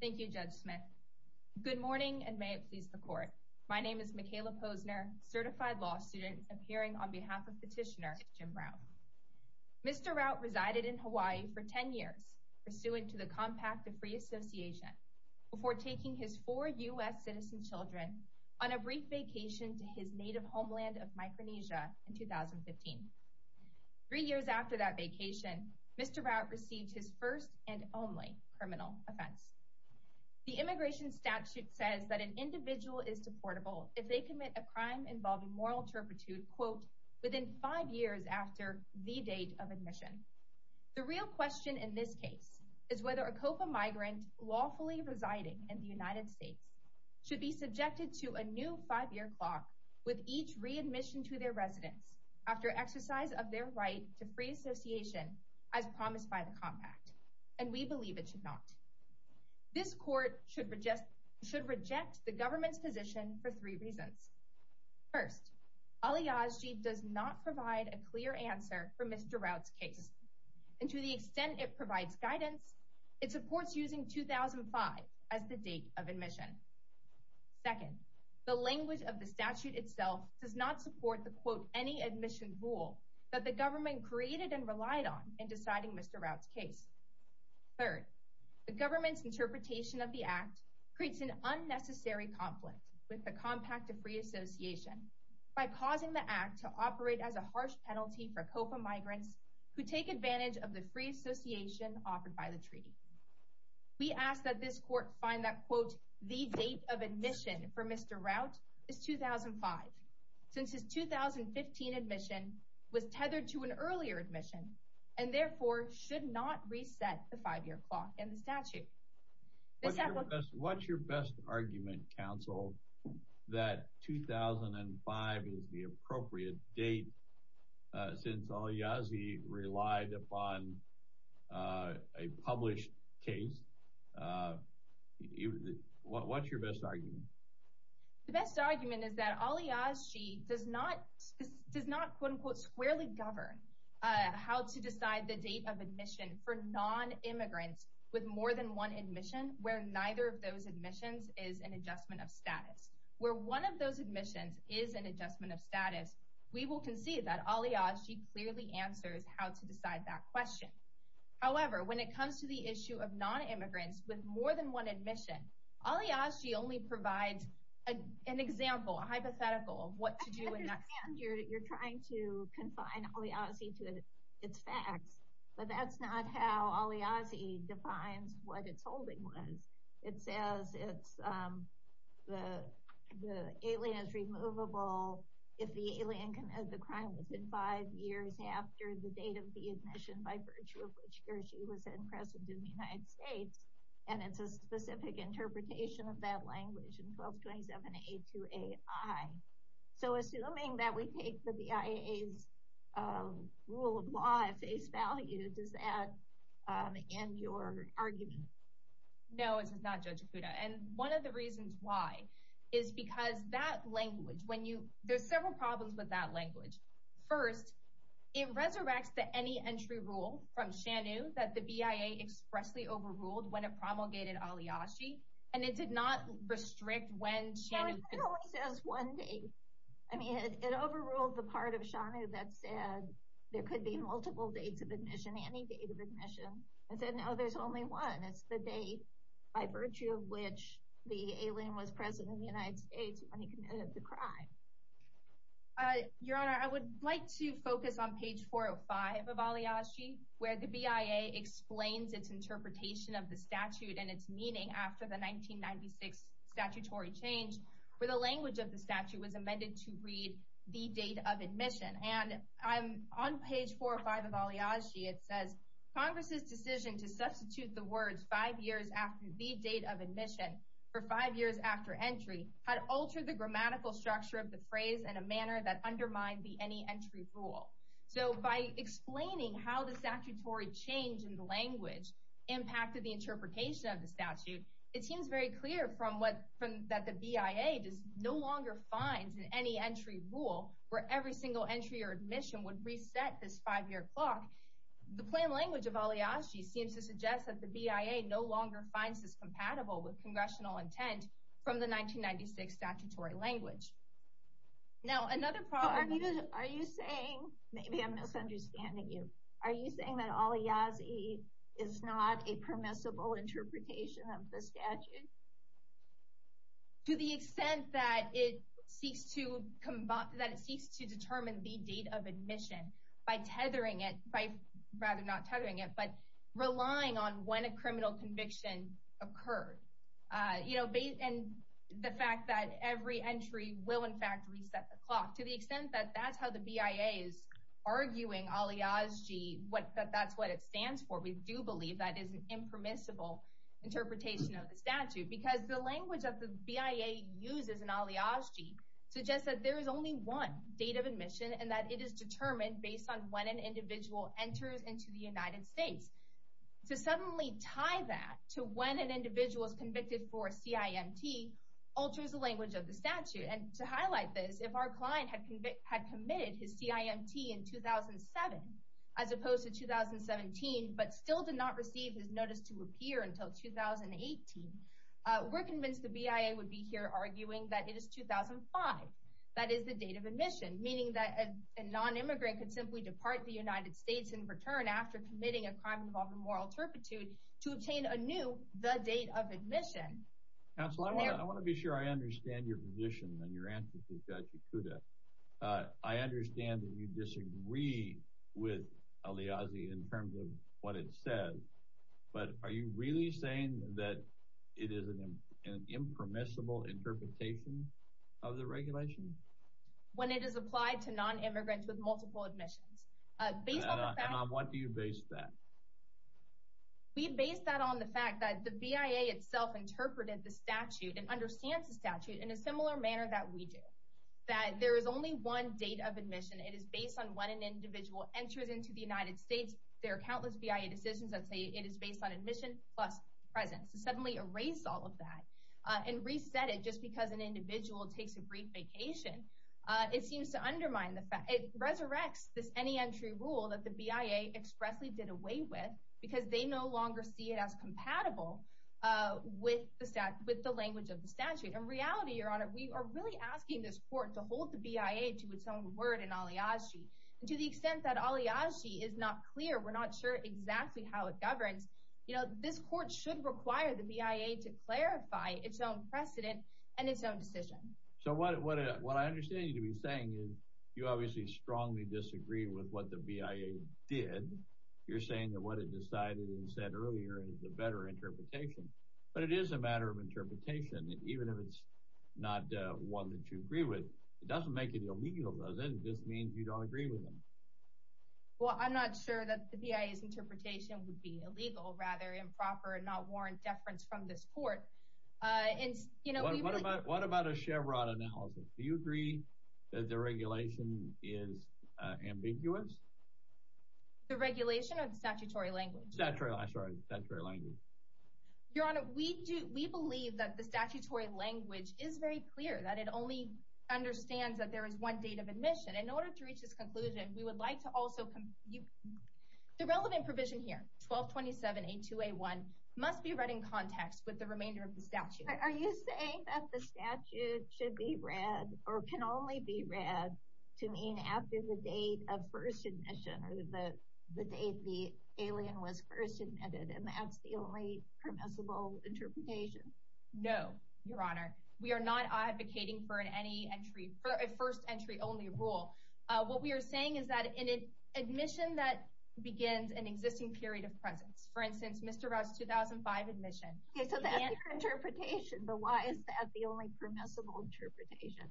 Thank you, Judge Smith. Good morning and may it please the Court. My name is Michaela Posner, certified law student, appearing on behalf of Petitioner Jim Brown. Mr. Route resided in Hawaii for 10 years, pursuant to the Compact of Free Association, before taking his four U.S. citizen children on a brief vacation to his native homeland of Micronesia in 2015. Three years after that vacation, Mr. Route received his first and only criminal offense. The immigration statute says that an individual is deportable if they commit a crime involving moral turpitude, quote, within five years after the date of admission. The real question in this case is whether a COPA migrant lawfully residing in the United States should be subjected to a new five-year clock with each readmission to their free association as promised by the Compact, and we believe it should not. This Court should reject the government's position for three reasons. First, aliazji does not provide a clear answer for Mr. Route's case, and to the extent it provides guidance, it supports using 2005 as the date of admission. Second, the language of the statute itself does not support the, quote, any admission rule that the government created and relied on in deciding Mr. Route's case. Third, the government's interpretation of the Act creates an unnecessary conflict with the Compact of Free Association by causing the Act to operate as a harsh penalty for COPA migrants who take advantage of the free association offered by the treaty. We ask that this Court find that, quote, the date of admission for Mr. Route is 2005, since his 2015 admission was tethered to an earlier admission and therefore should not reset the five-year clock in the statute. What's your best argument, counsel, that 2005 is the date? What's your best argument? The best argument is that aliazji does not, does not, quote-unquote, squarely govern how to decide the date of admission for non-immigrants with more than one admission where neither of those admissions is an adjustment of status. Where one of those admissions is an adjustment of status, we will concede that aliazji clearly answers how to decide that question. However, when it comes to the issue of non-immigrants with more than one admission, aliazji only provides an example, a hypothetical of what to do in that sense. You're trying to confine aliazji to its facts, but that's not how aliazji defines what its holding was. It says it's, the alien is removable if the alien committed the crime within five years after the date of the admission by virtue of which he or she was then present in the United States, and it's a specific interpretation of that language in 1227A2AI. So assuming that we take the BIA's rule of law at face value, does that end your argument? No, it does not, Judge Akuda, and one of the reasons why is because that language, when you, there's several problems with that language. First, it resurrects to any entry rule from SHANU that the BIA expressly overruled when it promulgated aliazji, and it did not restrict when SHANU could... No, it only says one date. I mean, it overruled the part of SHANU that said there could be multiple dates of admission, any date of admission, and said no, there's only one. It's the date by Your Honor, I would like to focus on page 405 of aliazji, where the BIA explains its interpretation of the statute and its meaning after the 1996 statutory change, where the language of the statute was amended to read the date of admission. And I'm on page 405 of aliazji, it says, Congress's decision to substitute the words five years after the date of admission for five years after entry had altered the grammatical structure of the phrase in a manner that undermined the any-entry rule. So by explaining how the statutory change in the language impacted the interpretation of the statute, it seems very clear from what, that the BIA no longer finds in any-entry rule, where every single entry or admission would reset this five-year clock, the plain BIA no longer finds this compatible with congressional intent from the 1996 statutory language. Now, another part of this... Are you saying, maybe I'm misunderstanding you, are you saying that aliazji is not a permissible interpretation of the statute? To the extent that it seeks to determine the date of admission by tethering it, by rather not tethering it, but relying on when it had a criminal conviction occurred. And the fact that every entry will in fact reset the clock. To the extent that that's how the BIA is arguing aliazji, that that's what it stands for, we do believe that is an impermissible interpretation of the statute. Because the language that the BIA uses in aliazji suggests that there is only one date of admission and that it is determined based on when an individual enters into the United States. To suddenly tie that to when an individual is convicted for CIMT, alters the language of the statute. And to highlight this, if our client had committed his CIMT in 2007, as opposed to 2017, but still did not receive his notice to appear until 2018, we're convinced the BIA would be here arguing that it is 2005. That is the date of admission. Meaning that a non-immigrant could simply depart the United States and return after committing a crime involving moral turpitude to obtain anew the date of admission. Counselor, I want to be sure I understand your position and your answer to Tachikuda. I understand that you disagree with aliazji in terms of what it says. But are you really saying that it is an impermissible interpretation of the regulation? When it is applied to non-immigrants with multiple admissions. And on what do you base that? We base that on the fact that the BIA itself interpreted the statute and understands the statute in a similar manner that we do. That there is only one date of admission. It is based on when an individual enters into the United States. There are countless BIA decisions that say it is based on admission plus presence. To suddenly erase all of that and reset it just because an individual takes a brief vacation, it seems to undermine the fact. It resurrects this any entry rule that the BIA expressly did away with because they no longer see it as compatible with the language of the statute. In reality, your honor, we are really asking this court to hold the BIA to its own word in aliazji. To the extent that aliazji is not clear, we're not sure exactly how it governs. This court should require the BIA to clarify its own precedent and its own decision. So what I understand you to be saying is you obviously strongly disagree with what the BIA did. You're saying that what it decided and said earlier is a better interpretation. But it is a matter of interpretation, even if it's not one that you agree with. It doesn't make it illegal, does it? It just means you don't agree with them. Well, I'm not sure that the BIA's interpretation would be illegal, rather improper and not warrant deference from this court. What about a Chevron analysis? Do you agree that the regulation is ambiguous? The regulation or the statutory language? Your honor, we believe that the statutory language is very clear. That it only understands that there is one date of admission. In order to reach this conclusion, we would like to also... The relevant provision here, 1227A2A1 must be read in context with the remainder of the statute. Are you saying that the statute should be read or can only be read to mean after the date of first admission? Or the date the alien was first admitted and that's the only permissible interpretation? No, your honor. We are not advocating for a first entry only rule. What we are saying is that an admission that begins an existing period of presence. For instance, Mr. Rao's 2005 admission. Okay, so that's your interpretation, but why is that the only permissible interpretation?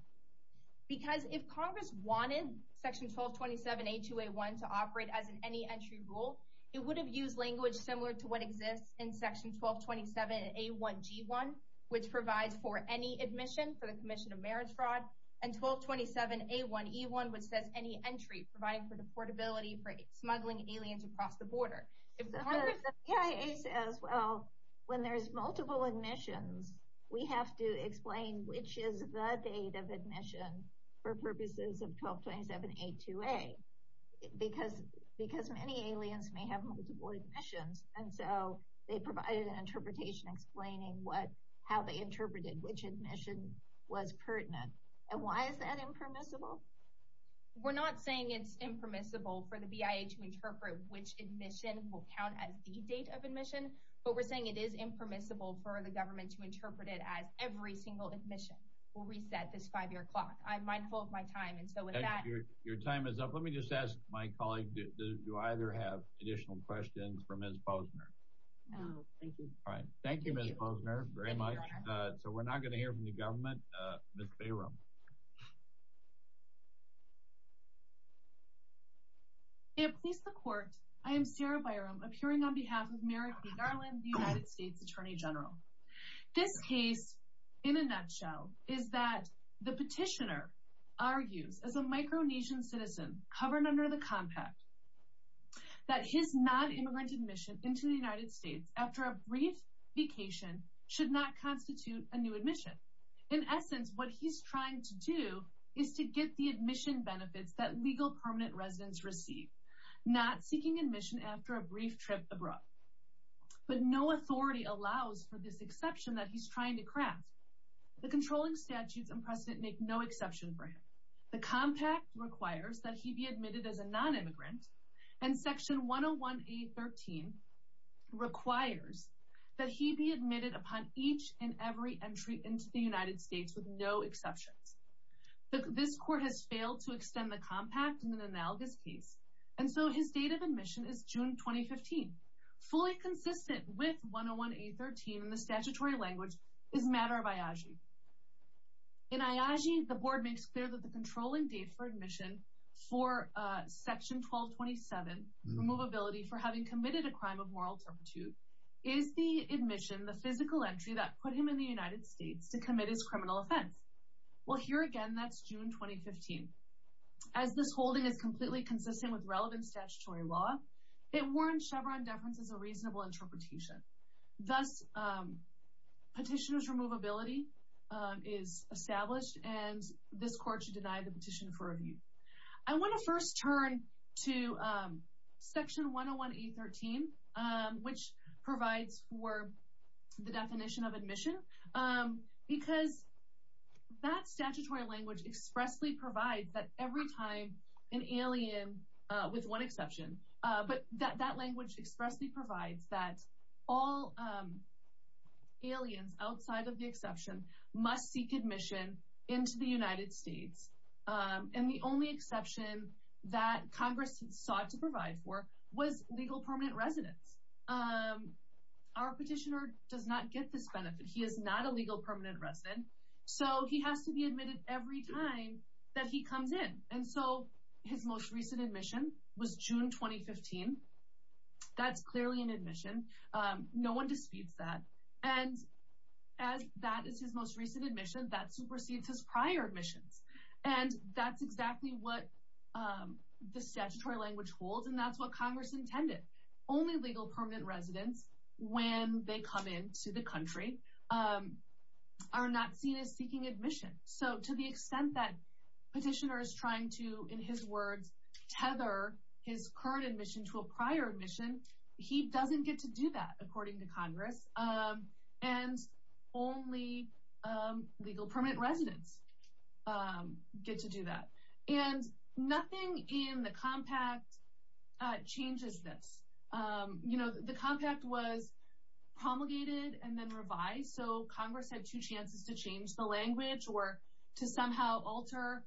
Because if Congress wanted section 1227A2A1 to operate as an any entry rule, it would have used language similar to what exists in section 1227A1G1, which provides for any admission for the commission of marriage fraud. And 1227A1E1, which says any entry providing for the portability for smuggling aliens across the border. The BIA says, well, when there's multiple admissions, we have to explain which is the date of admission for purposes of 1227A2A. Because many aliens may have multiple admissions, and so they provided an interpretation explaining how they interpreted which admission was pertinent. And why is that impermissible? We're not saying it's impermissible for the BIA to interpret which admission will count as the date of admission, but we're saying it is impermissible for the government to interpret it as every single admission will reset this five-year clock. I'm mindful of my time, and so with that— Your time is up. Let me just ask my colleague, do either have additional questions for Ms. Posner? No, thank you. All right. Thank you, Ms. Posner, very much. So we're not going to hear from the government. Ms. Bayram. May it please the court, I am Sarah Bayram, appearing on behalf of Merrick B. Garland, the United States Attorney General. This case, in a nutshell, is that the petitioner argues, as a micro-nation citizen covered under the compact, that his non-immigrant admission into the United States after a brief vacation should not constitute a new admission. In essence, what he's trying to do is to get the admission benefits that legal permanent residents receive, not seeking admission after a brief trip abroad. But no authority allows for this exception that he's trying to craft. The controlling statutes and precedent make no exception for him. The compact requires that he be admitted as a non-immigrant, and Section 101A.13 requires that he be admitted upon each and every entry into the United States with no exceptions. This court has failed to extend the compact in an analogous case, and so his date of admission is June 2015. Fully consistent with 101A.13 in the statutory language is matter of IAGI. In IAGI, the board makes clear that the controlling date for admission for Section 1227, Removability for Having Committed a Crime of Moral Turpitude, is the admission, the physical entry, that put him in the United States to commit his criminal offense. Well, here again, that's June 2015. As this holding is completely consistent with relevant statutory law, it warrants Chevron deference as a reasonable interpretation. Thus, Petitioner's Removability is established, and this court should deny the petition for review. I want to first turn to Section 101A.13, which provides for the definition of admission, because that statutory language expressly provides that every time an alien, with one exception, but that language expressly provides that all aliens outside of the exception must seek admission into the United States, and the only exception that Congress sought to provide for was legal permanent residence. Our petitioner does not get this benefit. He is not a legal permanent resident, so he has to be admitted every time that he comes in, and so his most recent admission was June 2015. That's clearly an admission. No one disputes that, and as that is his most recent admission, that supersedes his prior admissions, and that's exactly what the statutory language holds, and that's what Congress intended. Only legal permanent residents, when they come into the country, are not seen as seeking admission. So to the extent that Petitioner is trying to, in his words, tether his current admission to a prior admission, he doesn't get to do that, according to Congress, and only legal permanent residents get to do that. And nothing in the compact changes this. The compact was promulgated and then revised, so Congress had two chances to change the language or to somehow alter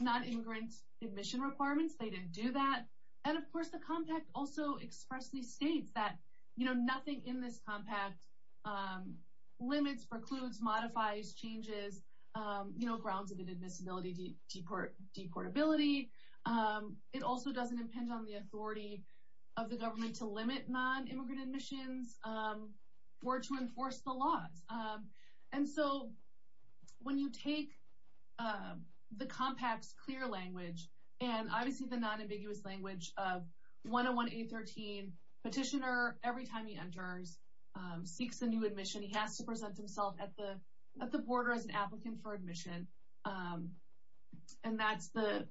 non-ingrant admission requirements. They didn't do that. And, of course, the compact also expressly states that nothing in this compact limits, precludes, modifies, changes grounds of inadmissibility, deportability. It also doesn't impinge on the authority of the government to limit non-immigrant admissions or to enforce the laws. And so when you take the compact's clear language and, obviously, the non-ambiguous language of 101-813, Petitioner, every time he enters, seeks a new admission. He has to present himself at the border as an applicant for admission, and that's the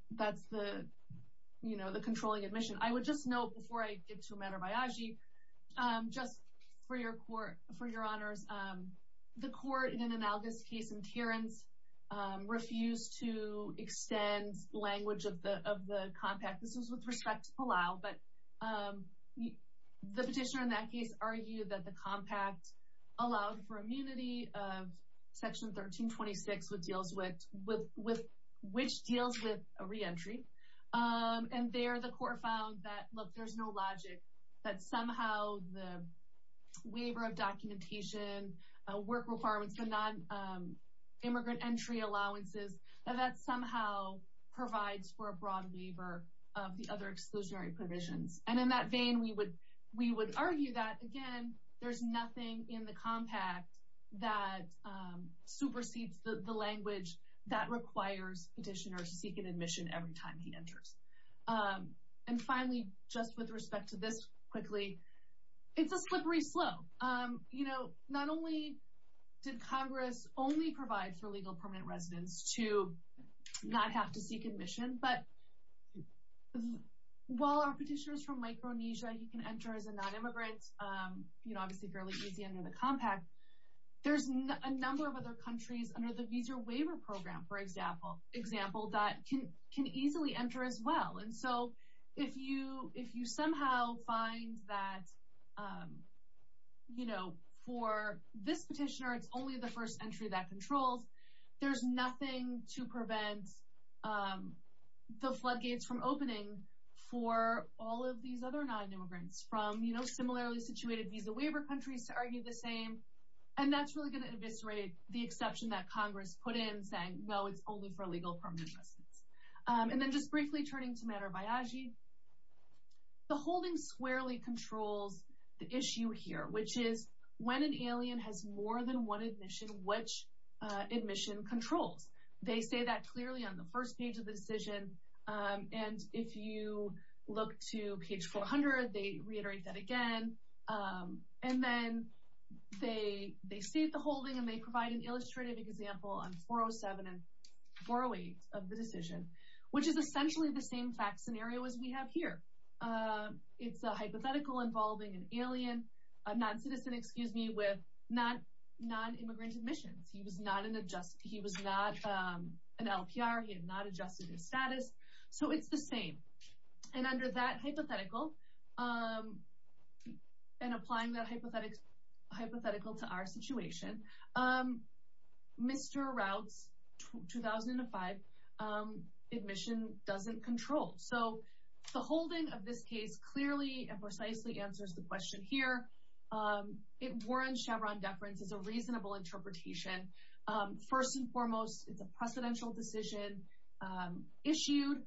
controlling admission. I would just note, before I get to Amador Baiagi, just for your honors, the court in an analogous case in Terrence refused to extend language of the compact. This was with respect to Palau, but the petitioner in that case argued that the compact allowed for immunity of Section 1326, which deals with a reentry, and there the court found that, look, there's no logic, that somehow the waiver of documentation, work requirements, the non-immigrant entry allowances, that that somehow provides for a broad waiver of the other exclusionary provisions. And in that vein, we would argue that, again, there's nothing in the compact that supersedes the language that requires petitioners to seek an admission every time he enters. And finally, just with respect to this quickly, it's a slippery slope. You know, not only did Congress only provide for legal permanent residence to not have to seek admission, but while our petitioner is from Micronesia, he can enter as a non-immigrant, you know, obviously fairly easy under the compact, there's a number of other countries under the Visa Waiver Program, for example, that can easily enter as well. And so, if you somehow find that, you know, for this petitioner, it's only the first entry that controls, there's nothing to prevent the floodgates from opening for all of these other non-immigrants from, you know, similarly situated Visa Waiver countries to argue the same. And that's really going to eviscerate the exception that Congress put in saying, no, it's only for legal permanent residence. And then just briefly turning to Manor Biagi, the holding squarely controls the issue here, which is when an alien has more than one admission, which admission controls. They say that clearly on the first page of the decision. And if you look to page 400, they reiterate that again. And then they state the holding and they provide an illustrative example on 407 and 408 of the decision, which is essentially the same fact scenario as we have here. It's a hypothetical involving an alien, a non-citizen, excuse me, with non-immigrant admissions. He was not an LPR. He had not adjusted his status. So it's the same. And under that hypothetical, and applying that hypothetical to our situation, Mr. Raut's 2005 admission doesn't control. So the holding of this case clearly and precisely answers the question here. It warrants Chevron deference as a reasonable interpretation. First and foremost, it's a precedential decision issued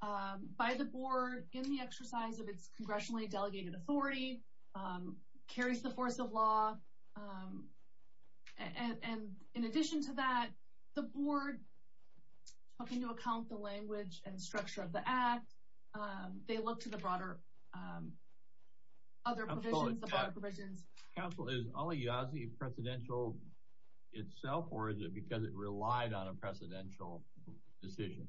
by the board in the exercise of its congressionally delegated authority, carries the force of law. And in addition to that, the board took into account the language and structure of the act. They look to the broader provisions. Counsel, is Aliagi precedential itself, or is it because it relied on a precedential decision?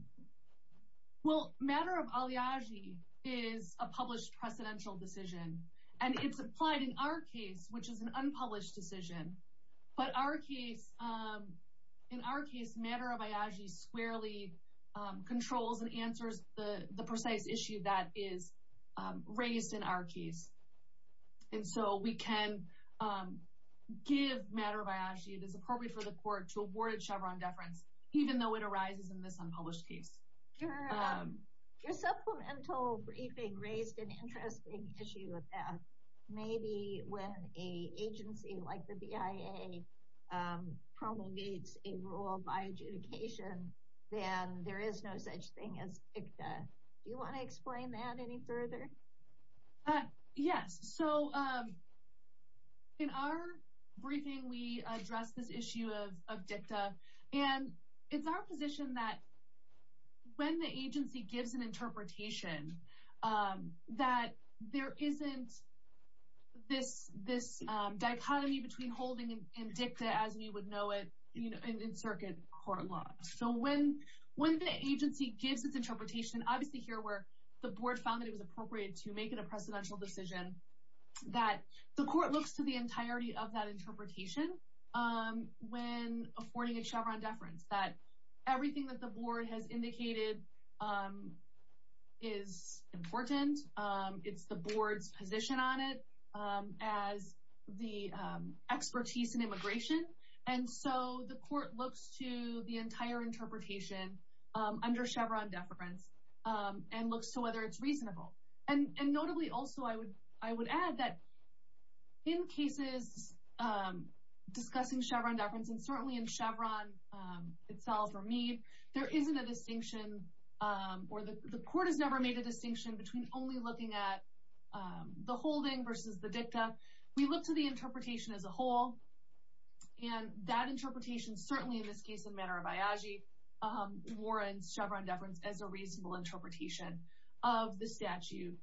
Well, matter of Aliagi is a published precedential decision. And it's applied in our case, which is an unpublished decision. But in our case, matter of Aliagi squarely controls and answers the precise issue that is raised in our case. And so we can give matter of Aliagi that is appropriate for the court to award Chevron deference, even though it arises in this unpublished case. Your supplemental briefing raised an interesting issue with that. Maybe when an agency like the BIA promulgates a rule of adjudication, then there is no such thing as dicta. Do you want to explain that any further? Yes. So in our briefing, we address this issue of dicta. And it's our position that when the agency gives an interpretation, that there isn't this dichotomy between holding and dicta as we would know it in circuit court law. So when the agency gives its interpretation, obviously here where the board found that it was appropriate to make it a precedential decision, that the court looks to the entirety of that interpretation when affording a Chevron deference, that everything that the board has indicated is important. It's the board's position on it as the expertise in immigration. And so the court looks to the entire interpretation under Chevron deference and looks to whether it's reasonable. And notably, also, I would add that in cases discussing Chevron deference, and certainly in Chevron itself or Meade, there isn't a distinction or the court has never made a distinction between only looking at the holding versus the dicta. We look to the interpretation as a whole. And that interpretation, certainly in this case in Manor of Iaji, warrants Chevron deference as a reasonable interpretation of the statute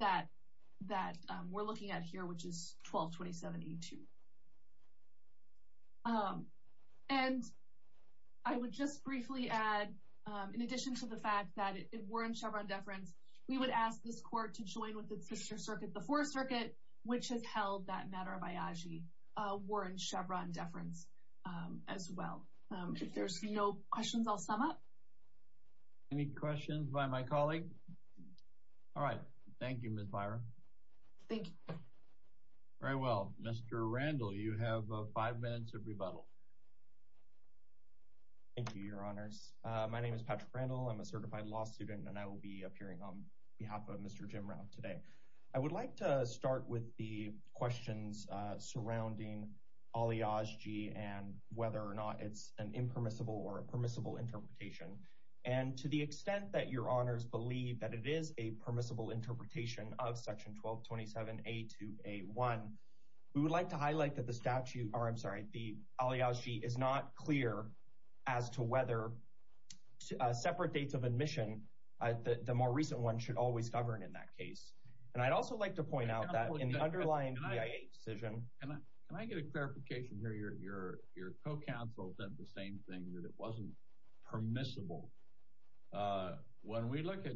that we're looking at here, which is 1227A2. And I would just briefly add, in addition to the fact that it warrants Chevron deference, we would ask this court to join with its sister circuit, the Fourth Circuit, which has held that Manor of Iaji warrants Chevron deference as well. If there's no questions, I'll sum up. Any questions by my colleague? All right. Thank you, Ms. Byron. Thank you. Very well. Mr. Randall, you have five minutes of rebuttal. Thank you, Your Honors. My name is Patrick Randall. I'm a certified law student, and I will be appearing on behalf of Mr. Jim Rao today. I would like to start with the questions surrounding Iaji and whether or not it's an impermissible or a permissible interpretation. And to the extent that Your Honors believe that it is a permissible interpretation of Section 1227A2A1, we would like to highlight that the statute, or I'm sorry, the Iaji is not clear as to whether separate dates of admission, the more recent one, should always govern in that case. And I'd also like to point out that in the underlying BIA decision— Can I get a clarification here? Your co-counsel said the same thing, that it wasn't permissible. When we look at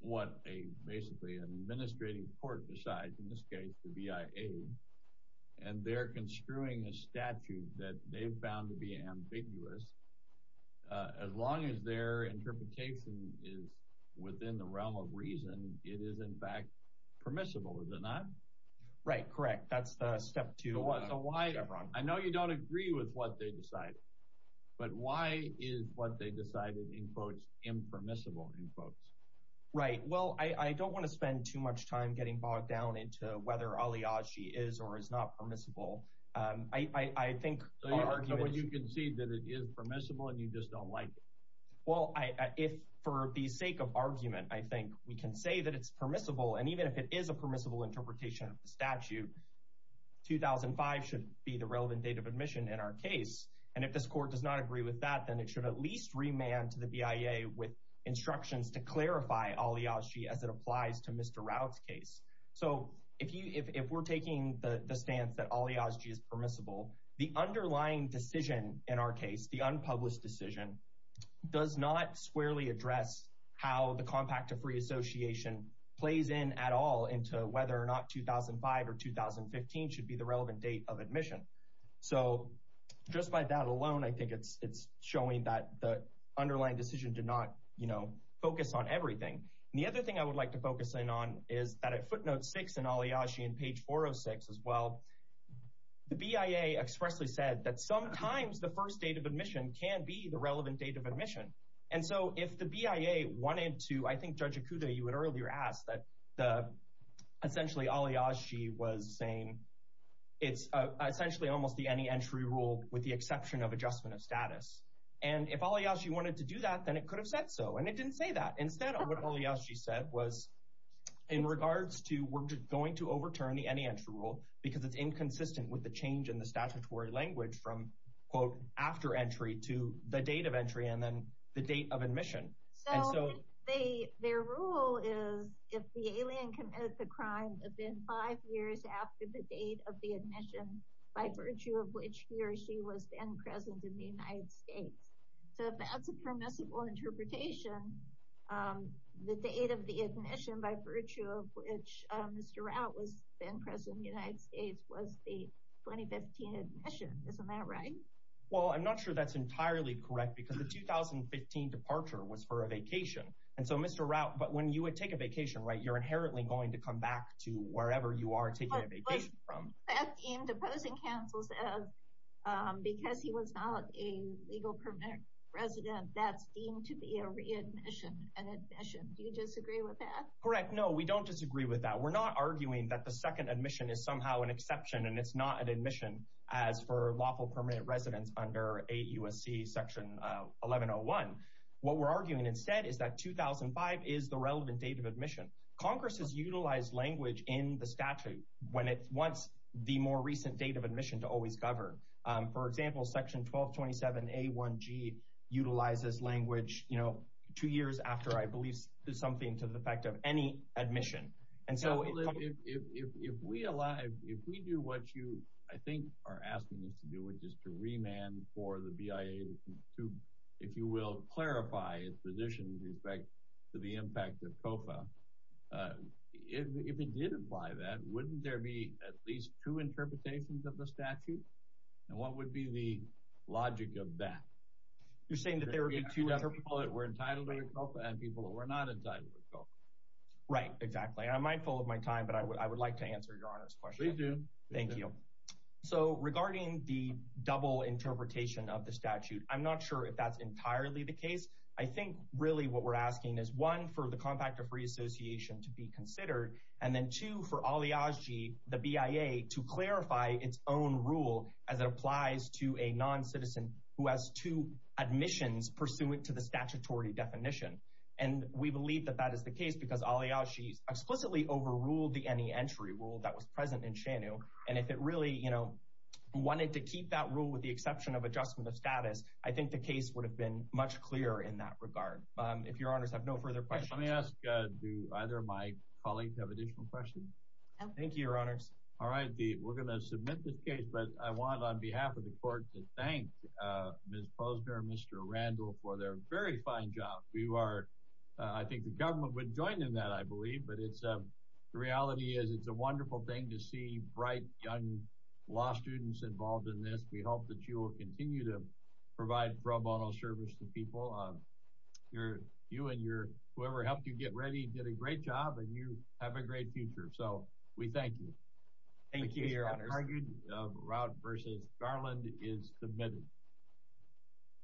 what basically an administrating court decides, in this case the BIA, and they're construing a statute that they've found to be ambiguous, as long as their interpretation is within the realm of reason, it is in fact permissible, is it not? Right, correct. That's step two. So why—I know you don't agree with what they decided, but why is what they decided, in quotes, impermissible, in quotes? Right, well, I don't want to spend too much time getting bogged down into whether Aliaji is or is not permissible. I think our argument— So you argue that you concede that it is permissible, and you just don't like it. Well, for the sake of argument, I think we can say that it's permissible, and even if it is a permissible interpretation of the statute, 2005 should be the relevant date of admission in our case. And if this court does not agree with that, then it should at least remand to the BIA with instructions to clarify Aliaji as it applies to Mr. Rao's case. So if we're taking the stance that Aliaji is permissible, the underlying decision in our case, the unpublished decision, does not squarely address how the Compact of Free Association plays in at all into whether or not 2005 or 2015 should be the relevant date of admission. So just by that alone, I think it's showing that the underlying decision did not focus on everything. And the other thing I would like to focus in on is that at footnote 6 in Aliaji, in page 406 as well, the BIA expressly said that sometimes the first date of admission can be the relevant date of admission. And so if the BIA wanted to—I think, Judge Okuda, you had earlier asked that essentially Aliaji was saying it's essentially almost the any-entry rule with the exception of adjustment of status. And if Aliaji wanted to do that, then it could have said so, and it didn't say that. Instead, what Aliaji said was in regards to we're going to overturn the any-entry rule because it's inconsistent with the change in the statutory language from, quote, after entry to the date of entry and then the date of admission. So their rule is if the alien committed the crime within five years after the date of the admission by virtue of which he or she was then present in the United States. So if that's a permissible interpretation, the date of the admission by virtue of which Mr. Rao was then present in the United States was the 2015 admission. Isn't that right? Well, I'm not sure that's entirely correct because the 2015 departure was for a vacation. And so, Mr. Rao, but when you would take a vacation, right, you're inherently going to come back to wherever you are taking a vacation from. Pat deemed opposing counsels as, because he was not a legal permanent resident, that's deemed to be a readmission, an admission. Do you disagree with that? Correct. No, we don't disagree with that. We're not arguing that the second admission is somehow an exception and it's not an admission as for lawful permanent residents under 8 U.S.C. section 1101. What we're arguing instead is that 2005 is the relevant date of admission. Congress has utilized language in the statute when it wants the more recent date of admission to always govern. For example, section 1227A1G utilizes language, you know, two years after I believe something to the effect of any admission. And so if we do what you I think are asking us to do, which is to remand for the BIA to, if you will, clarify its position with respect to the impact of COFA, if it did apply that, wouldn't there be at least two interpretations of the statute? And what would be the logic of that? You're saying that there would be two other people that were entitled to a COFA and people that were not entitled to a COFA. Right, exactly. I'm mindful of my time, but I would like to answer Your Honor's question. Please do. Thank you. So regarding the double interpretation of the statute, I'm not sure if that's entirely the case. I think really what we're asking is one, for the Compact of Reassociation to be considered, and then two, for Ali Aji, the BIA, to clarify its own rule as it applies to a non-citizen who has two admissions pursuant to the statutory definition. And we believe that that is the case because Ali Aji explicitly overruled the any entry rule that was present in SHANU. And if it really, you know, wanted to keep that rule with the exception of adjustment of status, I think the case would have been much clearer in that regard. If Your Honors have no further questions. Let me ask, do either of my colleagues have additional questions? No. Thank you, Your Honors. All right, we're going to submit this case, but I want on behalf of the Court to thank Ms. Posner and Mr. Randall for their very fine job. I think the government would join in that, I believe, but the reality is it's a wonderful thing to see bright, young law students involved in this. We hope that you will continue to provide pro bono service to people. You and whoever helped you get ready did a great job, and you have a great future. So we thank you. Thank you, Your Honors. Thank you, Your Honors. The route versus Garland is submitted.